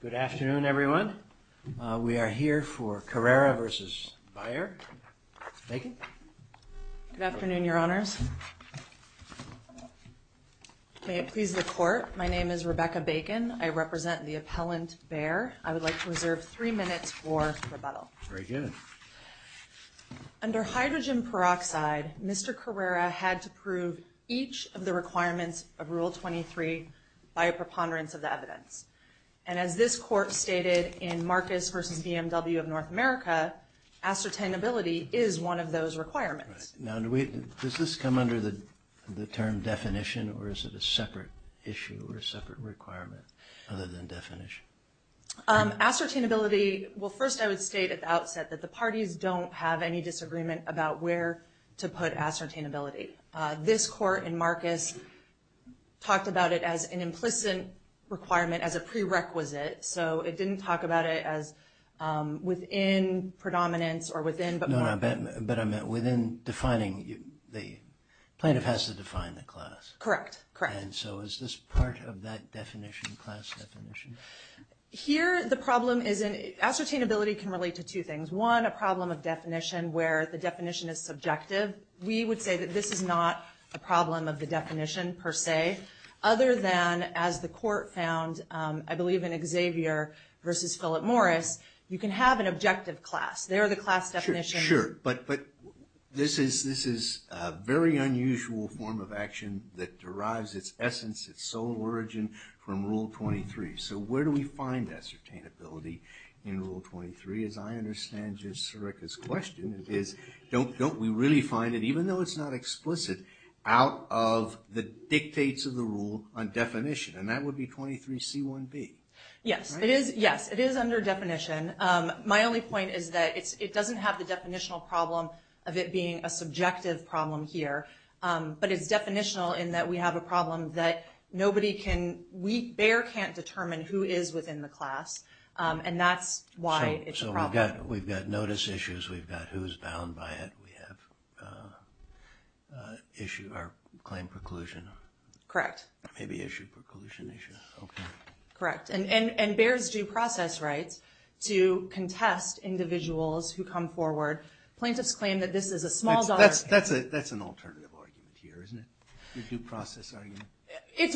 Good afternoon, everyone. We are here for Carrera v. Bayer. Good afternoon, Your Honors. May it please the Court, my name is Rebecca Bacon. I represent the appellant, Bayer. I would like to reserve three minutes for rebuttal. Very good. Under hydrogen peroxide, Mr. Carrera had to prove each of the charges by a preponderance of the evidence. And as this Court stated in Marcus v. BMW of North America, ascertainability is one of those requirements. Now, does this come under the term definition or is it a separate issue or a separate requirement other than definition? Ascertainability, well, first I would state at the outset that the parties don't have any disagreement about where to put ascertainability. This Court in Marcus talked about it as an implicit requirement, as a prerequisite, so it didn't talk about it as within predominance or within but more. No, but I meant within defining the plaintiff has to define the class. Correct, correct. And so is this part of that definition, class definition? Here the problem is ascertainability can relate to two things. One, a problem of definition where the definition is subjective. We would say that this is not a problem of the definition per se, other than, as the Court found, I believe in Xavier v. Philip Morris, you can have an objective class. They're the class definition. Sure, sure. But this is a very unusual form of action that derives its essence, its sole origin, from Rule 23. So where do we find ascertainability in Rule 23? As I understand your question, don't we really find it, even though it's not explicit, out of the dictates of the rule on definition? And that would be 23c1b. Yes, it is under definition. My only point is that it doesn't have the definitional problem of it being a subjective problem here, but it's definitional in that we have a problem that nobody can, Bayer can't determine who is within the class, and that's why it's a problem. So we've got notice issues, we've got who's bound by it, we have claim preclusion. Correct. Maybe issue preclusion issue. Okay. Correct. And Bayer's due process writes to contest individuals who come forward. Plaintiffs claim that this is a small- That's an alternative argument here, isn't it? Your due process argument. It's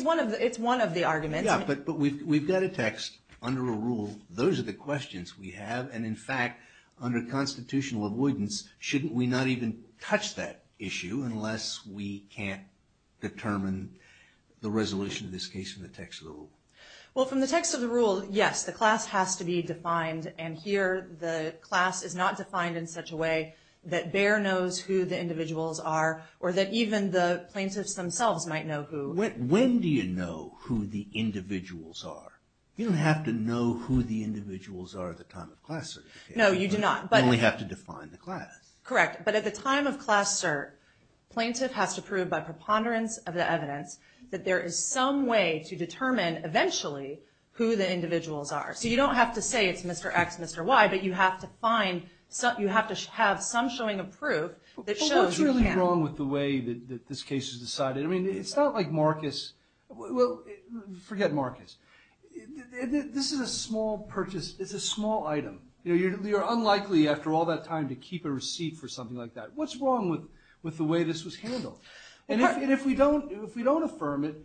one of the arguments. Yeah, but we've got a text under a rule. Those are the questions we have. And in fact, under constitutional avoidance, shouldn't we not even touch that issue unless we can't determine the resolution of this case from the text of the rule? Well, from the text of the rule, yes, the class has to be defined. And here, the class is not defined in such a way that Bayer knows who the individuals are or that even the plaintiffs themselves might know who- When do you know who the individuals are? You don't have to know who the individuals are at the time of class certification. No, you do not. You only have to define the class. Correct. But at the time of class cert, plaintiff has to prove by preponderance of the evidence that there is some way to determine eventually who the individuals are. So you don't have to say it's Mr. X, Mr. Y, but you have to find- you have to have some showing of proof that shows you can. But what's really wrong with the way that this case is decided? I mean, it's not like Marcus- well, forget Marcus. This is a small purchase. It's a small item. You're unlikely, after all that time, to keep a receipt for something like that. What's wrong with the way this was handled? And if we don't affirm it,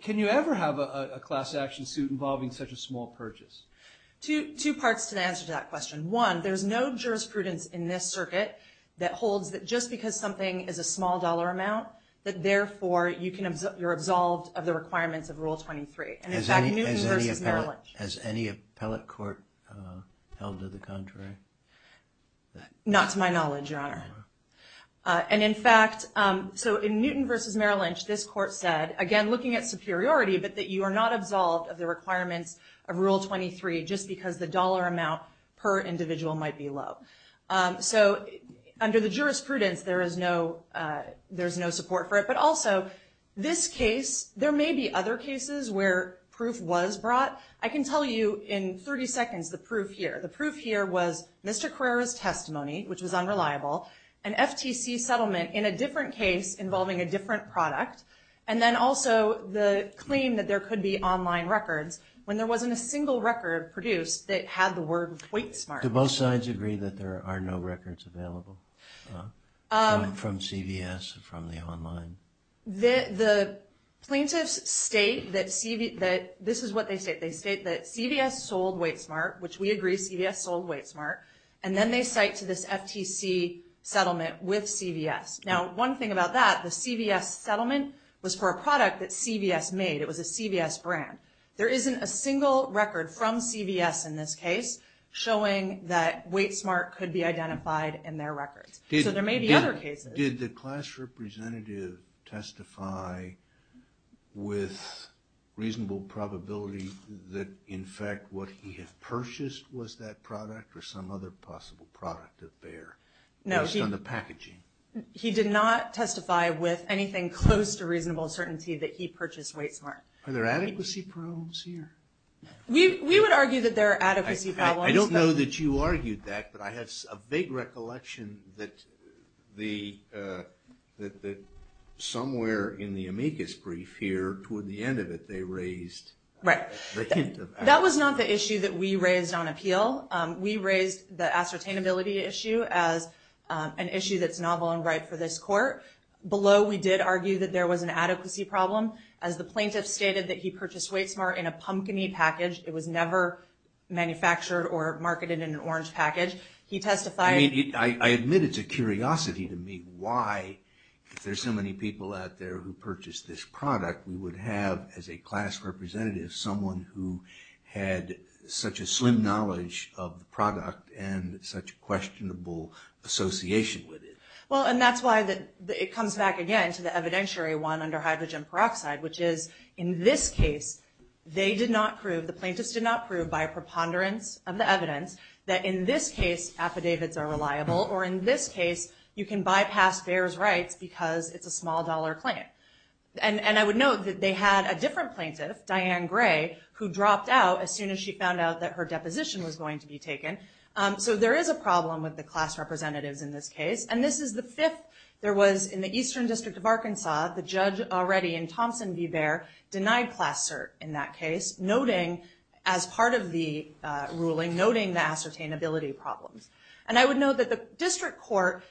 can you ever have a class action suit involving such a small purchase? Two parts to the answer to that question. One, there's no jurisprudence in this circuit that holds that just because something is a small dollar amount that therefore you're absolved of the requirements of Rule 23. And in fact, Newton v. Merrill Lynch- Has any appellate court held to the contrary? Not to my knowledge, Your Honor. And in fact, so in Newton v. Merrill Lynch, this court said, again looking at superiority, but that you are not absolved of the requirements of Rule 23 just because the dollar amount per individual might be low. So under the jurisprudence, there is no support for it. But also, this case, there may be other cases where proof was brought. I can tell you in 30 seconds the proof here. The proof here was Mr. Carrera's testimony, which was unreliable, an FTC settlement in a different case involving a different product, and then also the claim that there could be online records when there wasn't a single record produced that had the word Wait Smart. Do both sides agree that there are no records available from CVS or from the online? The plaintiffs state that CV- CVS sold Wait Smart, and then they cite to this FTC settlement with CVS. Now one thing about that, the CVS settlement was for a product that CVS made. It was a CVS brand. There isn't a single record from CVS in this case showing that Wait Smart could be identified in their records. So there may be other cases. Did the class representative testify with reasonable probability that, in fact, what he had purchased was that product or some other possible product of theirs based on the packaging? No, he did not testify with anything close to reasonable certainty that he purchased Wait Smart. Are there adequacy problems here? We would argue that there are adequacy problems. I don't know that you argued that, but I have a vague recollection that somewhere in the amicus brief here, toward the end of it, they raised Right. That was not the issue that we raised on appeal. We raised the ascertainability issue as an issue that's novel and right for this court. Below, we did argue that there was an adequacy problem. As the plaintiff stated that he purchased Wait Smart in a pumpkin-y package. It was never manufactured or marketed in an orange package. He testified. I admit it's a curiosity to me why, if there's so many people out there who purchased this product, we would have, as a class representative, someone who had such a slim knowledge of the product and such questionable association with it. That's why it comes back again to the evidentiary one under hydrogen peroxide, which is, in this case, they did not prove, the plaintiffs did not prove, by preponderance of the evidence, that in this case affidavits are reliable or, in this case, you can bypass Behr's rights because it's a small-dollar claim. I would note that they had a different plaintiff, Diane Gray, who dropped out as soon as she found out that her deposition was going to be taken. There is a problem with the class representatives in this case. This is the fifth. There was, in the Eastern District of Arkansas, the judge already in Thompson v. Behr, denied class cert in that case, noting, as part of the ruling, noting the ascertainability problems. And I would note that the district court,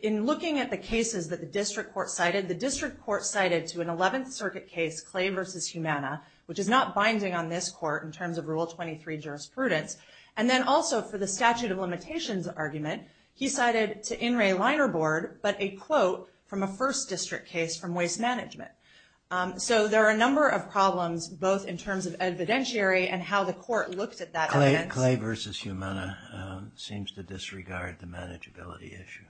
in looking at the cases that the district court cited, the district court cited to an 11th Circuit case, Clay v. Humana, which is not binding on this court in terms of Rule 23 jurisprudence, and then also for the statute of limitations argument, he cited to In re Liner Board, but a quote from a first district case from Waste Management. So there are a number of problems, both in terms of evidentiary and how the court looked at that evidence. Clay v. Humana seems to disregard the manageability issue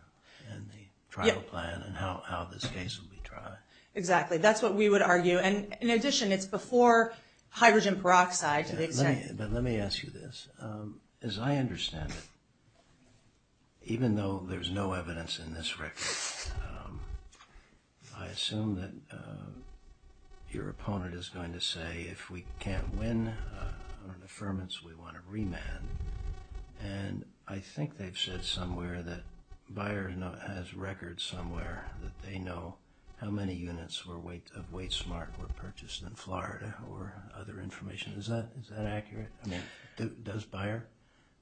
and the trial plan and how this case will be tried. Exactly. That's what we would argue. And in addition, it's before hydrogen peroxide. But let me ask you this. As I understand it, even though there's no evidence in this record, I assume that your opponent is going to say, if we can't win on an affirmance, we want to remand. And I think they've said somewhere that Bayer has records somewhere that they know how many units of Waste Smart were purchased in Florida or other information. Is that accurate? Yeah. Does Bayer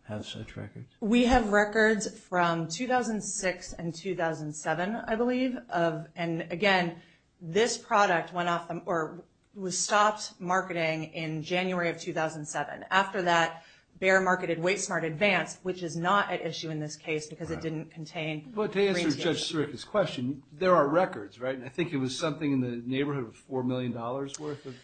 have such records? We have records from 2006 and 2007, I believe. And again, this product was stopped marketing in January of 2007. After that, Bayer marketed Waste Smart Advanced, which is not at issue in this case because it didn't contain green tape. But to answer Judge Sirica's question, there are records, right? And I think it was something in the neighborhood of $4 million worth of product?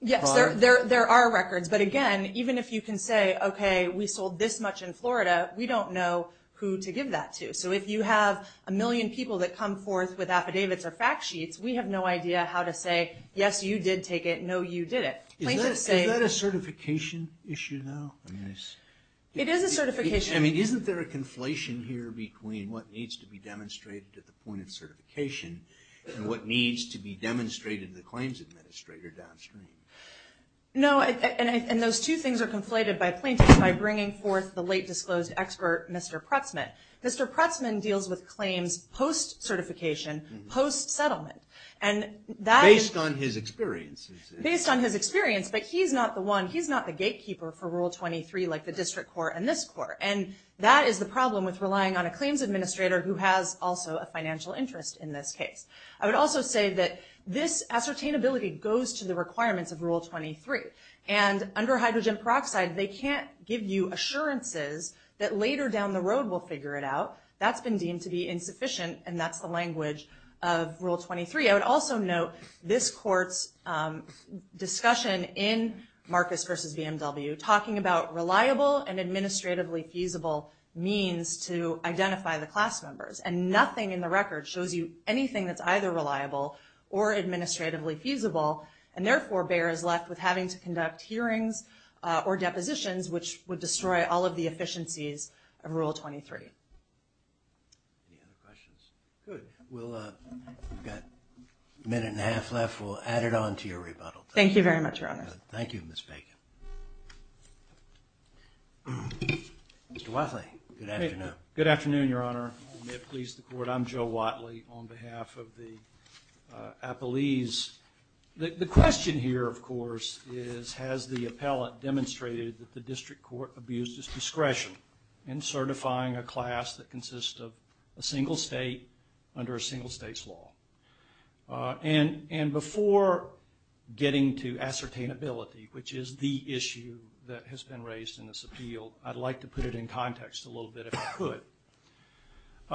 Yes, there are records. But again, even if you can say, okay, we sold this much in Florida, we don't know who to give that to. So if you have a million people that come forth with affidavits or fact sheets, we have no idea how to say, yes, you did take it, no, you didn't. Is that a certification issue now? It is a certification issue. Isn't there a conflation here between what needs to be demonstrated at the point of certification and what needs to be demonstrated to the claims administrator downstream? No, and those two things are conflated by plaintiffs by bringing forth the late disclosed expert, Mr. Prutsman. Mr. Prutsman deals with claims post-certification, post-settlement. Based on his experience. Based on his experience, but he's not the gatekeeper for Rule 23 like the district court and this court. And that is the problem with relying on a claims administrator who has also a financial interest in this case. I would also say that this ascertainability goes to the requirements of Rule 23. And under hydrogen peroxide, they can't give you assurances that later down the road we'll figure it out. That's been deemed to be insufficient, and that's the language of Rule 23. I would also note this court's discussion in Marcus v. BMW talking about reliable and administratively feasible means to identify the class members. And nothing in the record shows you anything that's either reliable or administratively feasible, and therefore bears left with having to conduct hearings or depositions which would destroy all of the efficiencies of Rule 23. Any other questions? Good. We've got a minute and a half left. We'll add it on to your rebuttal. Thank you very much, Your Honor. Thank you, Ms. Bacon. Mr. Watley, good afternoon. Good afternoon, Your Honor. May it please the court. I'm Joe Watley on behalf of the Appellees. The question here, of course, is has the appellate demonstrated that the district court abused its discretion in certifying a class that consists of a single state under a single state's law? And before getting to ascertainability, which is the issue that has been raised in this appeal, I'd like to put it in context a little bit, if I could.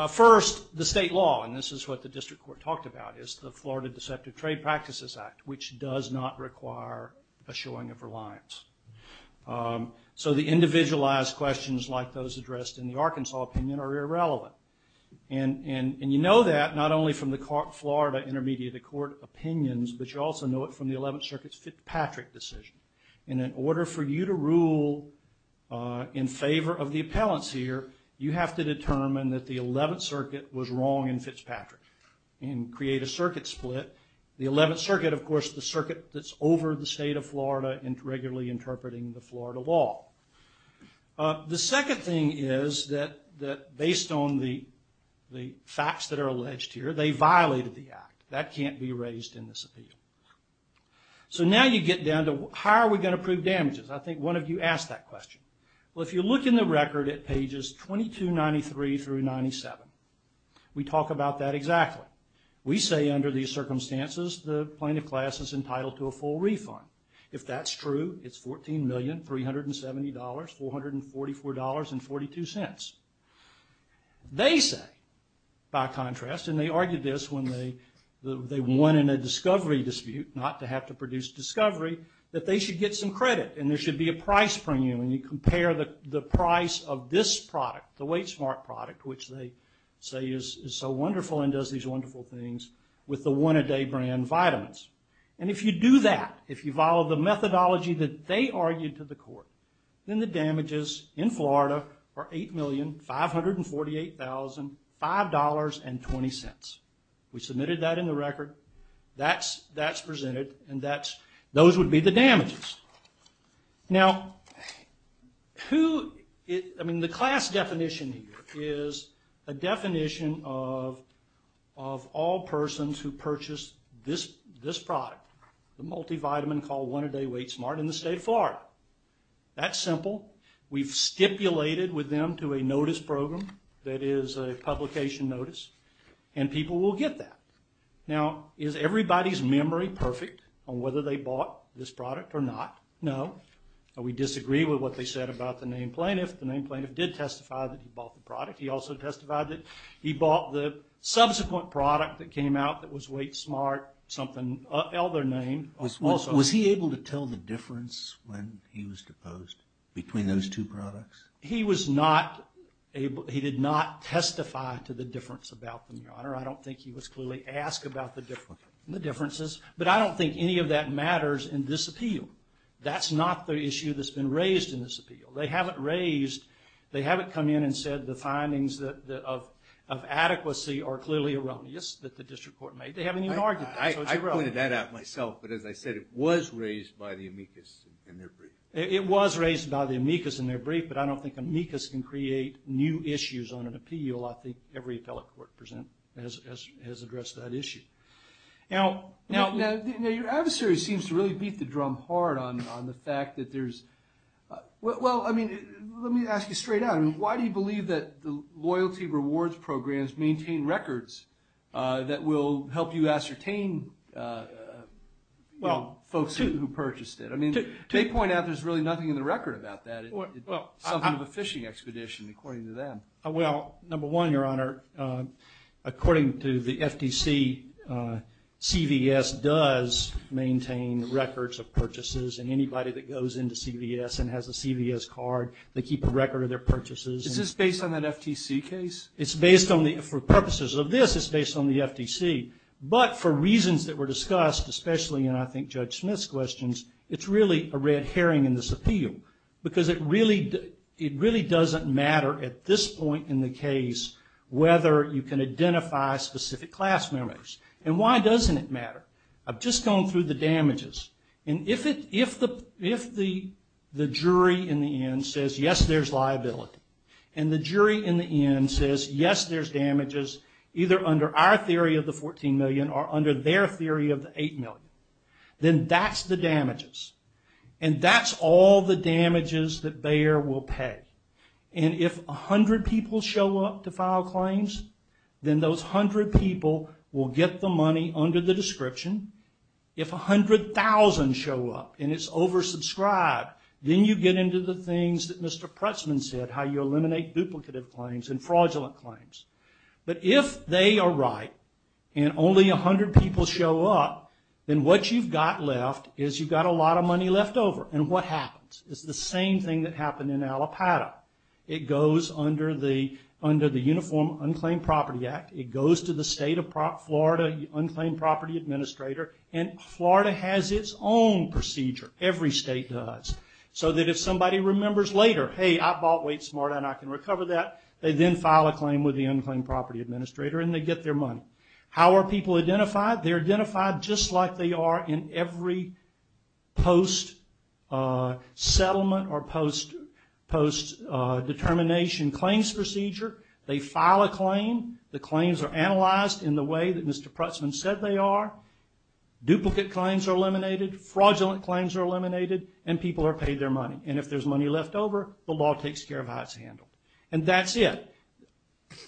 First, the state law, and this is what the district court talked about, is the Florida Deceptive Trade Practices Act, which does not require a showing of reliance. So the individualized questions like those addressed in the Arkansas opinion are irrelevant. And you know that not only from the Florida Intermediate Court opinions, but you also know it from the Eleventh Circuit's Fitzpatrick decision. In order for you to rule in favor of the appellants here, you have to determine that the Eleventh Circuit was wrong in Fitzpatrick and create a circuit split. The Eleventh Circuit, of course, the circuit that's over the state of Florida and regularly interpreting the Florida law. The second thing is that based on the facts that are alleged here, they violated the act. That can't be raised in this appeal. So now you get down to how are we going to prove damages? I think one of you asked that question. Well, if you look in the record at pages 2293 through 97, we talk about that exactly. We say under these circumstances the plaintiff class is entitled to a full refund. If that's true, it's $14,370,444.42. They say, by contrast, and they argued this when they won in a discovery dispute, not to have to produce discovery, that they should get some credit and there should be a price premium. And you compare the price of this product, the Weight Smart product, which they say is so wonderful and does these wonderful things, with the one-a-day brand vitamins. And if you do that, if you follow the methodology that they argued to the court, then the damages in Florida are $8,548,005.20. We submitted that in the record. That's presented, and those would be the damages. Now, the class definition here is a definition of all persons who purchase this product, the multivitamin called One-A-Day Weight Smart, in the state of Florida. That's simple. We've stipulated with them to a notice program that is a publication notice, and people will get that. Now, is everybody's memory perfect on whether they bought this product or not? No. We disagree with what they said about the named plaintiff. The named plaintiff did testify that he bought the product. He also testified that he bought the subsequent product that came out that was Weight Smart, something of an elder name. Was he able to tell the difference when he was deposed between those two products? He did not testify to the difference about them, Your Honor. I don't think he was clearly asked about the differences, but I don't think any of that matters in this appeal. That's not the issue that's been raised in this appeal. They haven't come in and said the findings of adequacy are clearly erroneous that the district court made. They haven't even argued that, so it's irrelevant. I pointed that out myself, but as I said, it was raised by the amicus in their brief. It was raised by the amicus in their brief, but I don't think amicus can create new issues on an appeal. I think every appellate court has addressed that issue. Now, your adversary seems to really beat the drum hard on the fact that there's – well, I mean, let me ask you straight out. Why do you believe that the loyalty rewards programs maintain records that will help you ascertain folks who purchased it? I mean, they point out there's really nothing in the record about that. It's something of a fishing expedition, according to them. Well, number one, Your Honor, according to the FTC, CVS does maintain records of purchases, and anybody that goes into CVS and has a CVS card, they keep a record of their purchases. Is this based on an FTC case? It's based on the – for purposes of this, it's based on the FTC, but for reasons that were discussed, especially in, I think, Judge Smith's questions, it's really a red herring in this appeal because it really doesn't matter at this point in the case whether you can identify specific class members. And why doesn't it matter? I've just gone through the damages. And if the jury in the end says, yes, there's liability, and the jury in the end says, yes, there's damages, either under our theory of the $14 million or under their theory of the $8 million, then that's the damages. And that's all the damages that Bayer will pay. And if 100 people show up to file claims, then those 100 people will get the money under the description. If 100,000 show up and it's oversubscribed, then you get into the things that Mr. Pressman said, how you eliminate duplicative claims and fraudulent claims. But if they are right and only 100 people show up, then what you've got left is you've got a lot of money left over. And what happens? It's the same thing that happened in Allapattah. It goes under the Uniform Unclaimed Property Act. It goes to the State of Florida Unclaimed Property Administrator. And Florida has its own procedure. Every state does. So that if somebody remembers later, hey, I bought Wait Smart and I can recover that, they then file a claim with the Unclaimed Property Administrator and they get their money. How are people identified? They're identified just like they are in every post-settlement or post-determination claims procedure. They file a claim. The claims are analyzed in the way that Mr. Pressman said they are. Duplicate claims are eliminated. Fraudulent claims are eliminated. And people are paid their money. And if there's money left over, the law takes care of how it's handled. And that's it.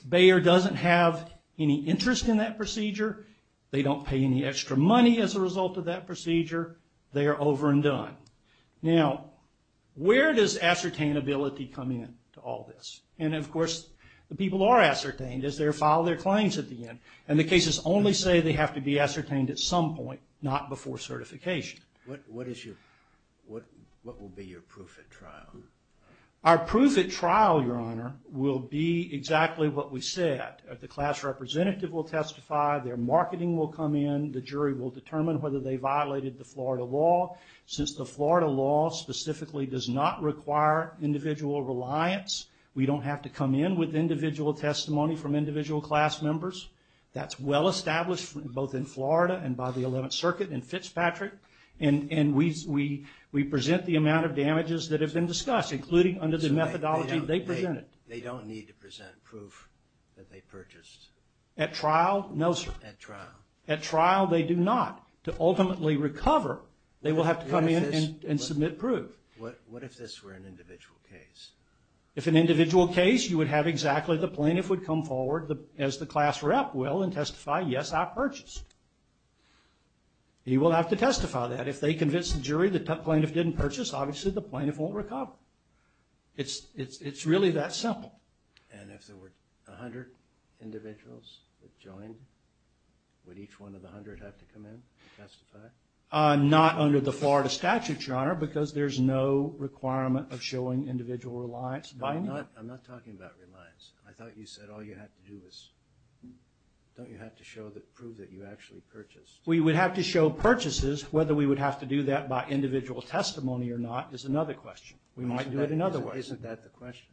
Bayer doesn't have any interest in that procedure. They don't pay any extra money as a result of that procedure. They are over and done. Now, where does ascertainability come in to all this? And, of course, the people are ascertained as they file their claims at the end. And the cases only say they have to be ascertained at some point, not before certification. What will be your proof at trial? Our proof at trial, Your Honor, will be exactly what we said. The class representative will testify. Their marketing will come in. The jury will determine whether they violated the Florida law. Since the Florida law specifically does not require individual reliance, we don't have to come in with individual testimony from individual class members. That's well established both in Florida and by the Eleventh Circuit and Fitzpatrick. And we present the amount of damages that have been discussed, including under the methodology they presented. They don't need to present proof that they purchased? At trial, no, sir. At trial. At trial, they do not. To ultimately recover, they will have to come in and submit proof. What if this were an individual case? If an individual case, you would have exactly the plaintiff would come forward as the class rep will and testify, yes, I purchased. He will have to testify that. If they convince the jury the plaintiff didn't purchase, obviously the plaintiff won't recover. It's really that simple. And if there were 100 individuals that joined, would each one of the 100 have to come in and testify? Not under the Florida statute, Your Honor, because there's no requirement of showing individual reliance by name. I'm not talking about reliance. I thought you said all you have to do is, don't you have to prove that you actually purchased? We would have to show purchases. Whether we would have to do that by individual testimony or not is another question. We might do it another way. Isn't that the question?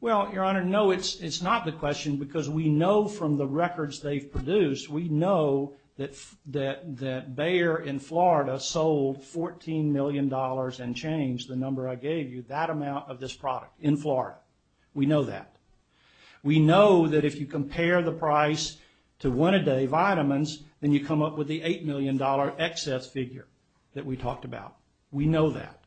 Well, Your Honor, no, it's not the question because we know from the records they've produced, we know that Bayer in Florida sold $14 million and changed, the number I gave you, that amount of this product in Florida. We know that. We know that if you compare the price to one a day vitamins, then you come up with the $8 million excess figure that we talked about. We know that.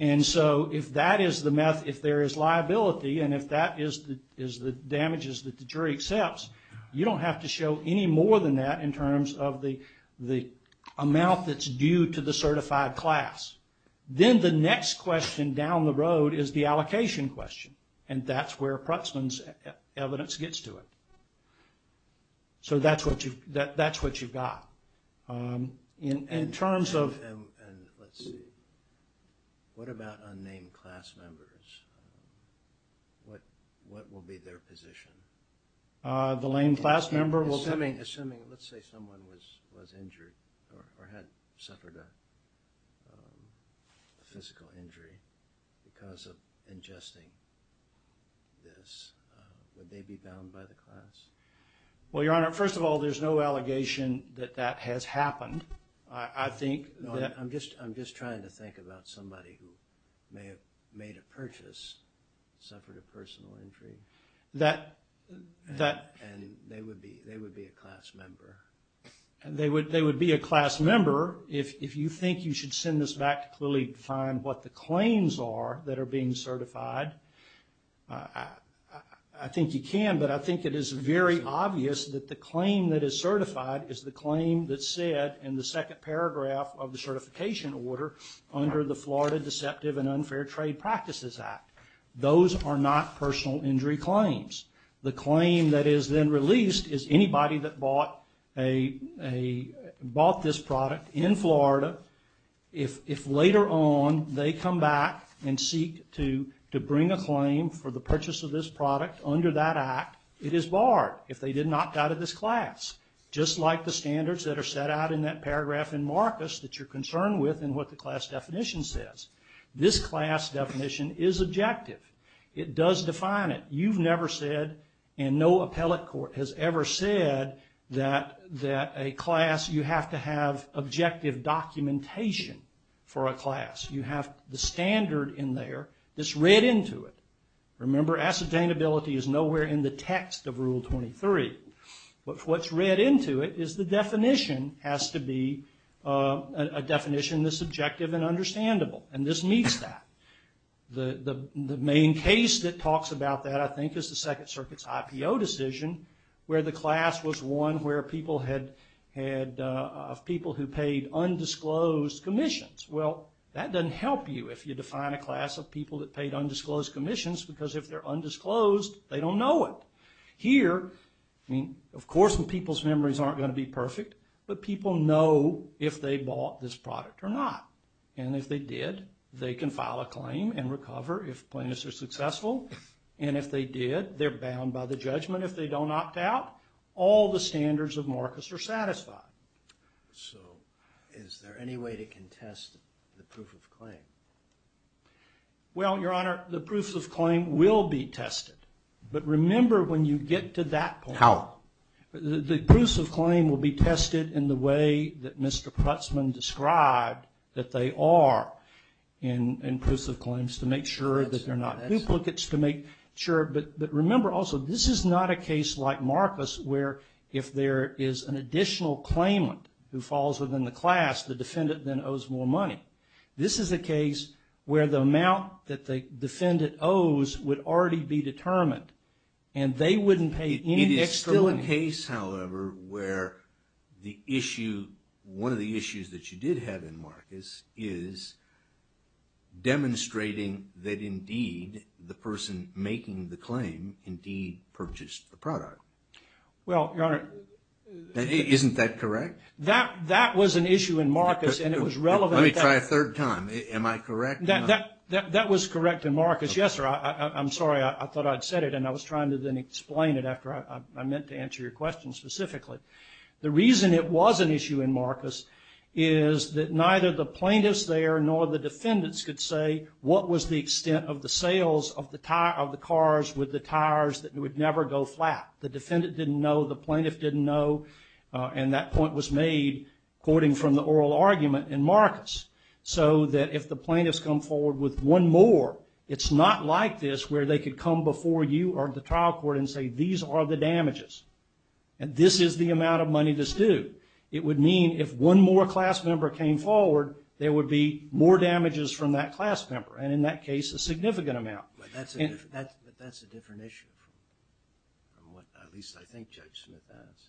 And so if that is the meth, if there is liability, and if that is the damages that the jury accepts, you don't have to show any more than that in terms of the amount that's due to the certified class. Then the next question down the road is the allocation question, and that's where Pruittsman's evidence gets to it. So that's what you've got. In terms of, and let's see. What about unnamed class members? What will be their position? Assuming, let's say someone was injured or had suffered a physical injury because of ingesting this, would they be bound by the class? Well, Your Honor, first of all, there's no allegation that that has happened. I think that… I'm just trying to think about somebody who may have made a purchase, suffered a personal injury, and they would be a class member. They would be a class member. If you think you should send this back to clearly define what the claims are that are being certified, I think you can, but I think it is very obvious that the claim that is certified is the claim that's said in the second paragraph of the certification order under the Florida Deceptive and Unfair Trade Practices Act. Those are not personal injury claims. The claim that is then released is anybody that bought this product in Florida, if later on they come back and seek to bring a claim for the purchase of this product under that act, it is barred if they did not doubt of this class, just like the standards that are set out in that paragraph in Marcus that you're concerned with in what the class definition says. This class definition is objective. It does define it. You've never said, and no appellate court has ever said, that a class, you have to have objective documentation for a class. You have the standard in there that's read into it. Remember, ascertainability is nowhere in the text of Rule 23, but what's read into it is the definition has to be a definition that's subjective and understandable, and this meets that. The main case that talks about that, I think, is the Second Circuit's IPO decision where the class was one where people who paid undisclosed commissions. Well, that doesn't help you if you define a class of people that paid undisclosed commissions because if they're undisclosed, they don't know it. Here, I mean, of course people's memories aren't going to be perfect, but people know if they bought this product or not, and if they did, they can file a claim and recover if plaintiffs are successful, and if they did, they're bound by the judgment if they don't opt out. All the standards of Marcus are satisfied. So is there any way to contest the proof of claim? Well, Your Honor, the proof of claim will be tested, but remember when you get to that point... How? The proofs of claim will be tested in the way that Mr. Putzman described that they are in proofs of claims to make sure that they're not duplicates. But remember also, this is not a case like Marcus where if there is an additional claimant who falls within the class, the defendant then owes more money. This is a case where the amount that the defendant owes would already be determined, and they wouldn't pay any extra money. It is still a case, however, where the issue, one of the issues that you did have in Marcus is demonstrating that indeed the person making the claim indeed purchased the product. Well, Your Honor... Isn't that correct? That was an issue in Marcus, and it was relevant... Let me try a third time. Am I correct? That was correct in Marcus. Yes, sir. I'm sorry. I thought I'd said it, and I was trying to then explain it after I meant to answer your question specifically. The reason it was an issue in Marcus is that neither the plaintiffs there nor the defendants could say what was the extent of the sales of the cars with the tires that would never go flat. The defendant didn't know, the plaintiff didn't know, and that point was made, quoting from the oral argument in Marcus, so that if the plaintiffs come forward with one more, it's not like this where they could come before you or the trial court and say these are the damages, and this is the amount of money that's due. It would mean if one more class member came forward, there would be more damages from that class member, and in that case, a significant amount. But that's a different issue from what at least I think Judge Smith has.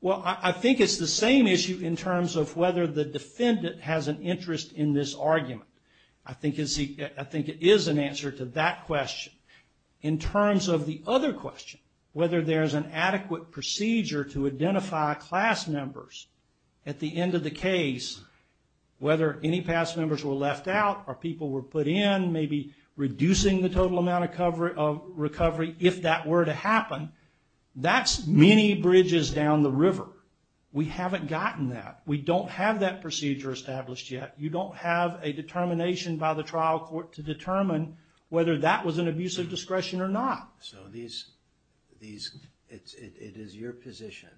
Well, I think it's the same issue in terms of whether the defendant has an interest in this argument. I think it is an answer to that question. In terms of the other question, whether there's an adequate procedure to identify class members, at the end of the case, whether any class members were left out or people were put in, maybe reducing the total amount of recovery if that were to happen, that's many bridges down the river. We haven't gotten that. We don't have that procedure established yet. You don't have a determination by the trial court to determine whether that was an abuse of discretion or not. So it is your position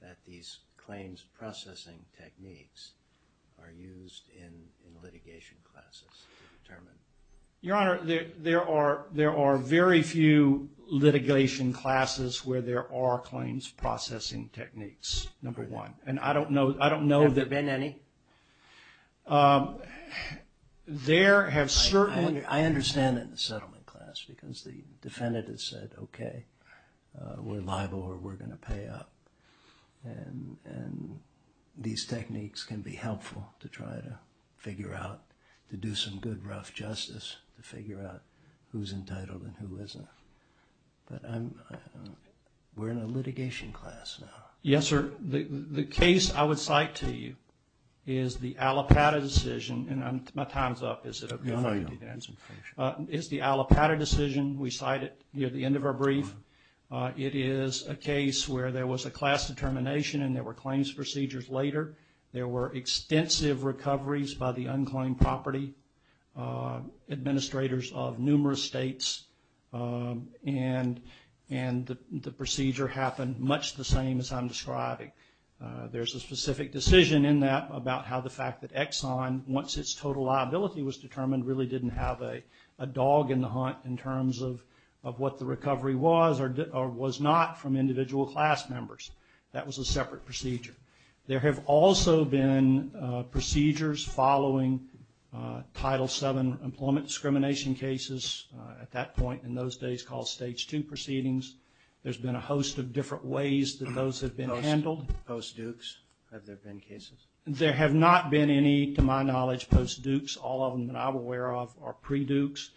that these claims processing techniques are used in litigation classes to determine? Your Honor, there are very few litigation classes where there are claims processing techniques, number one. Have there been any? I understand that in the settlement class because the defendant has said, okay, we're liable or we're going to pay up. And these techniques can be helpful to try to figure out, to do some good rough justice to figure out who's entitled and who isn't. But we're in a litigation class now. Yes, sir. The case I would cite to you is the Allapattah decision, and my time's up, is it? No, your Honor. It's the Allapattah decision. We cite it near the end of our brief. It is a case where there was a class determination and there were claims procedures later. There were extensive recoveries by the unclaimed property, administrators of numerous states, and the procedure happened much the same as I'm describing. There's a specific decision in that about how the fact that Exxon, once its total liability was determined, really didn't have a dog in the hunt in terms of what the recovery was or was not from individual class members. That was a separate procedure. There have also been procedures following Title VII employment discrimination cases at that point in those days called Stage II proceedings. There's been a host of different ways that those have been handled. Post-Dukes, have there been cases? There have not been any, to my knowledge, post-Dukes. All of them that I'm aware of are pre-Dukes.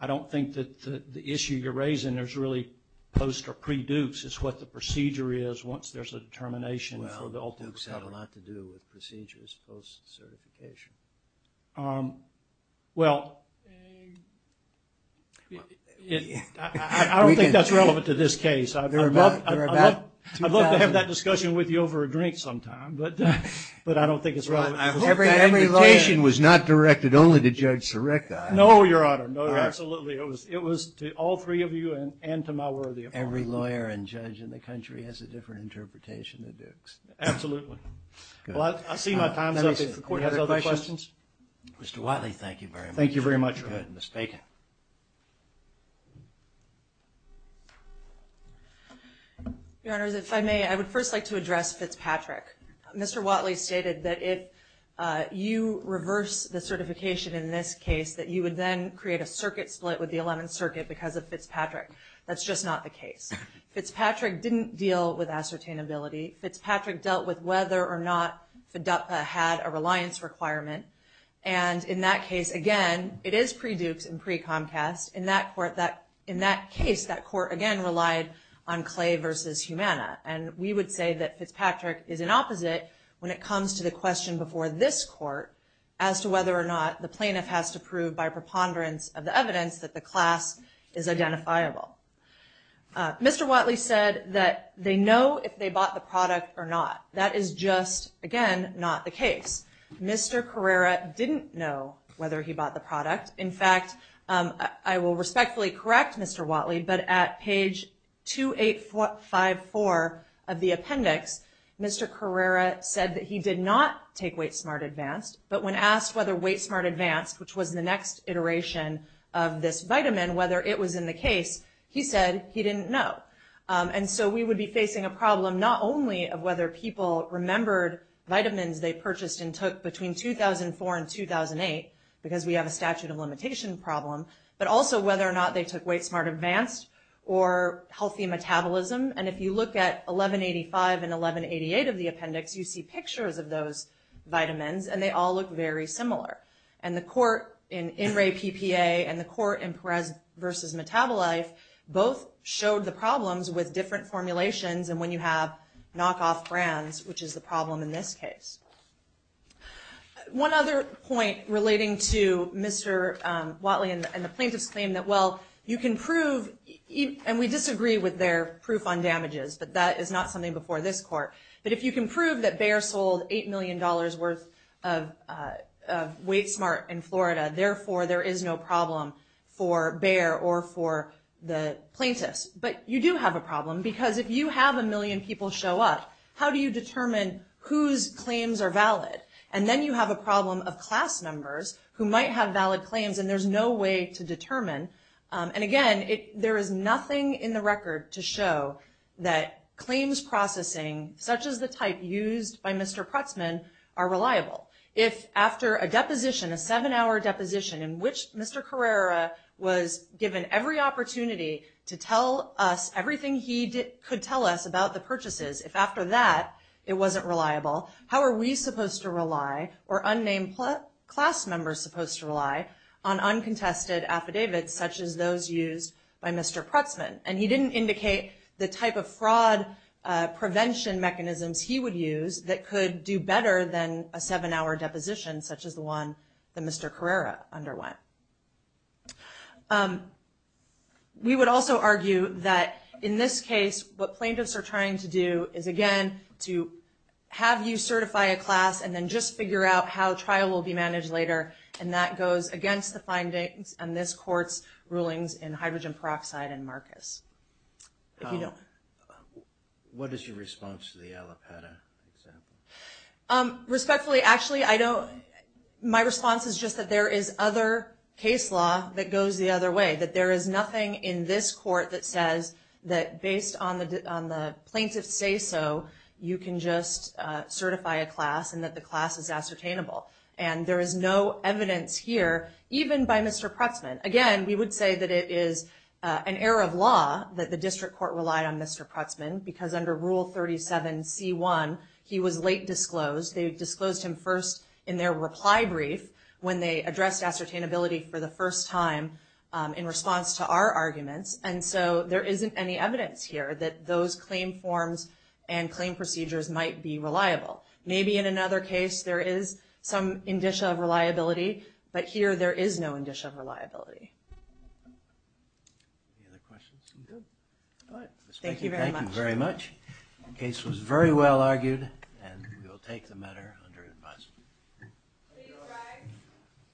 I don't think that the issue you're raising is really post or pre-Dukes. It's what the procedure is once there's a determination for the ultimate settlement. Well, Dukes had a lot to do with procedures post-certification. Well, I don't think that's relevant to this case. I'd love to have that discussion with you over a drink sometime, but I don't think it's relevant. I hope that invitation was not directed only to Judge Sirek. No, Your Honor. No, absolutely. It was to all three of you and to my worthy opponent. Every lawyer and judge in the country has a different interpretation of Dukes. Absolutely. Well, I see my time's up. If the Court has other questions. Mr. Wiley, thank you very much. Thank you very much, Your Honor. Go ahead, Ms. Bacon. Okay. Your Honors, if I may, I would first like to address Fitzpatrick. Mr. Wiley stated that if you reverse the certification in this case, that you would then create a circuit split with the Eleventh Circuit because of Fitzpatrick. That's just not the case. Fitzpatrick didn't deal with ascertainability. Fitzpatrick dealt with whether or not FDUPA had a reliance requirement, and in that case, again, it is pre-Dukes and pre-Comcast. In that case, that court, again, relied on Clay versus Humana, and we would say that Fitzpatrick is an opposite when it comes to the question before this court as to whether or not the plaintiff has to prove by preponderance of the evidence that the class is identifiable. Mr. Wiley said that they know if they bought the product or not. That is just, again, not the case. Mr. Carrera didn't know whether he bought the product. In fact, I will respectfully correct Mr. Wiley, but at page 2854 of the appendix, Mr. Carrera said that he did not take Wait Smart Advanced, but when asked whether Wait Smart Advanced, which was the next iteration of this vitamin, whether it was in the case, he said he didn't know. And so we would be facing a problem not only of whether people remembered vitamins they purchased and took between 2004 and 2008, because we have a statute of limitation problem, but also whether or not they took Wait Smart Advanced or healthy metabolism. And if you look at 1185 and 1188 of the appendix, you see pictures of those vitamins, and they all look very similar. And the court in In Re PPA and the court in Perez v. Metabolife both showed the problems with different formulations and when you have knockoff brands, which is the problem in this case. One other point relating to Mr. Wiley and the plaintiff's claim that, well, you can prove, and we disagree with their proof on damages, but that is not something before this court, but if you can prove that Bayer sold $8 million worth of Wait Smart in Florida, therefore there is no problem for Bayer or for the plaintiffs. But you do have a problem, because if you have a million people show up, how do you determine whose claims are valid? And then you have a problem of class members who might have valid claims, and there's no way to determine. And again, there is nothing in the record to show that claims processing, such as the type used by Mr. Putzman, are reliable. If after a deposition, a seven-hour deposition, in which Mr. Carrera was given every opportunity to tell us everything he could tell us about the purchases, if after that it wasn't reliable, how are we supposed to rely or unnamed class members supposed to rely on uncontested affidavits, such as those used by Mr. Putzman? And he didn't indicate the type of fraud prevention mechanisms he would use that could do better than a seven-hour deposition, such as the one that Mr. Carrera underwent. We would also argue that in this case, what plaintiffs are trying to do is, again, to have you certify a class and then just figure out how trial will be managed later, and that goes against the findings in this court's rulings in hydrogen peroxide and Marcus. What is your response to the Alipada example? Respectfully, actually, my response is just that there is other case law that goes the other way, that there is nothing in this court that says that based on the plaintiff's say-so, you can just certify a class and that the class is ascertainable. And there is no evidence here, even by Mr. Putzman. Again, we would say that it is an error of law that the district court relied on Mr. Putzman, because under Rule 37c1, he was late disclosed. They disclosed him first in their reply brief when they addressed ascertainability for the first time in response to our arguments, and so there isn't any evidence here that those claim forms and claim procedures might be reliable. Maybe in another case there is some indicia of reliability, but here there is no indicia of reliability. Thank you very much. The case was very well argued, and we will take the matter under advice.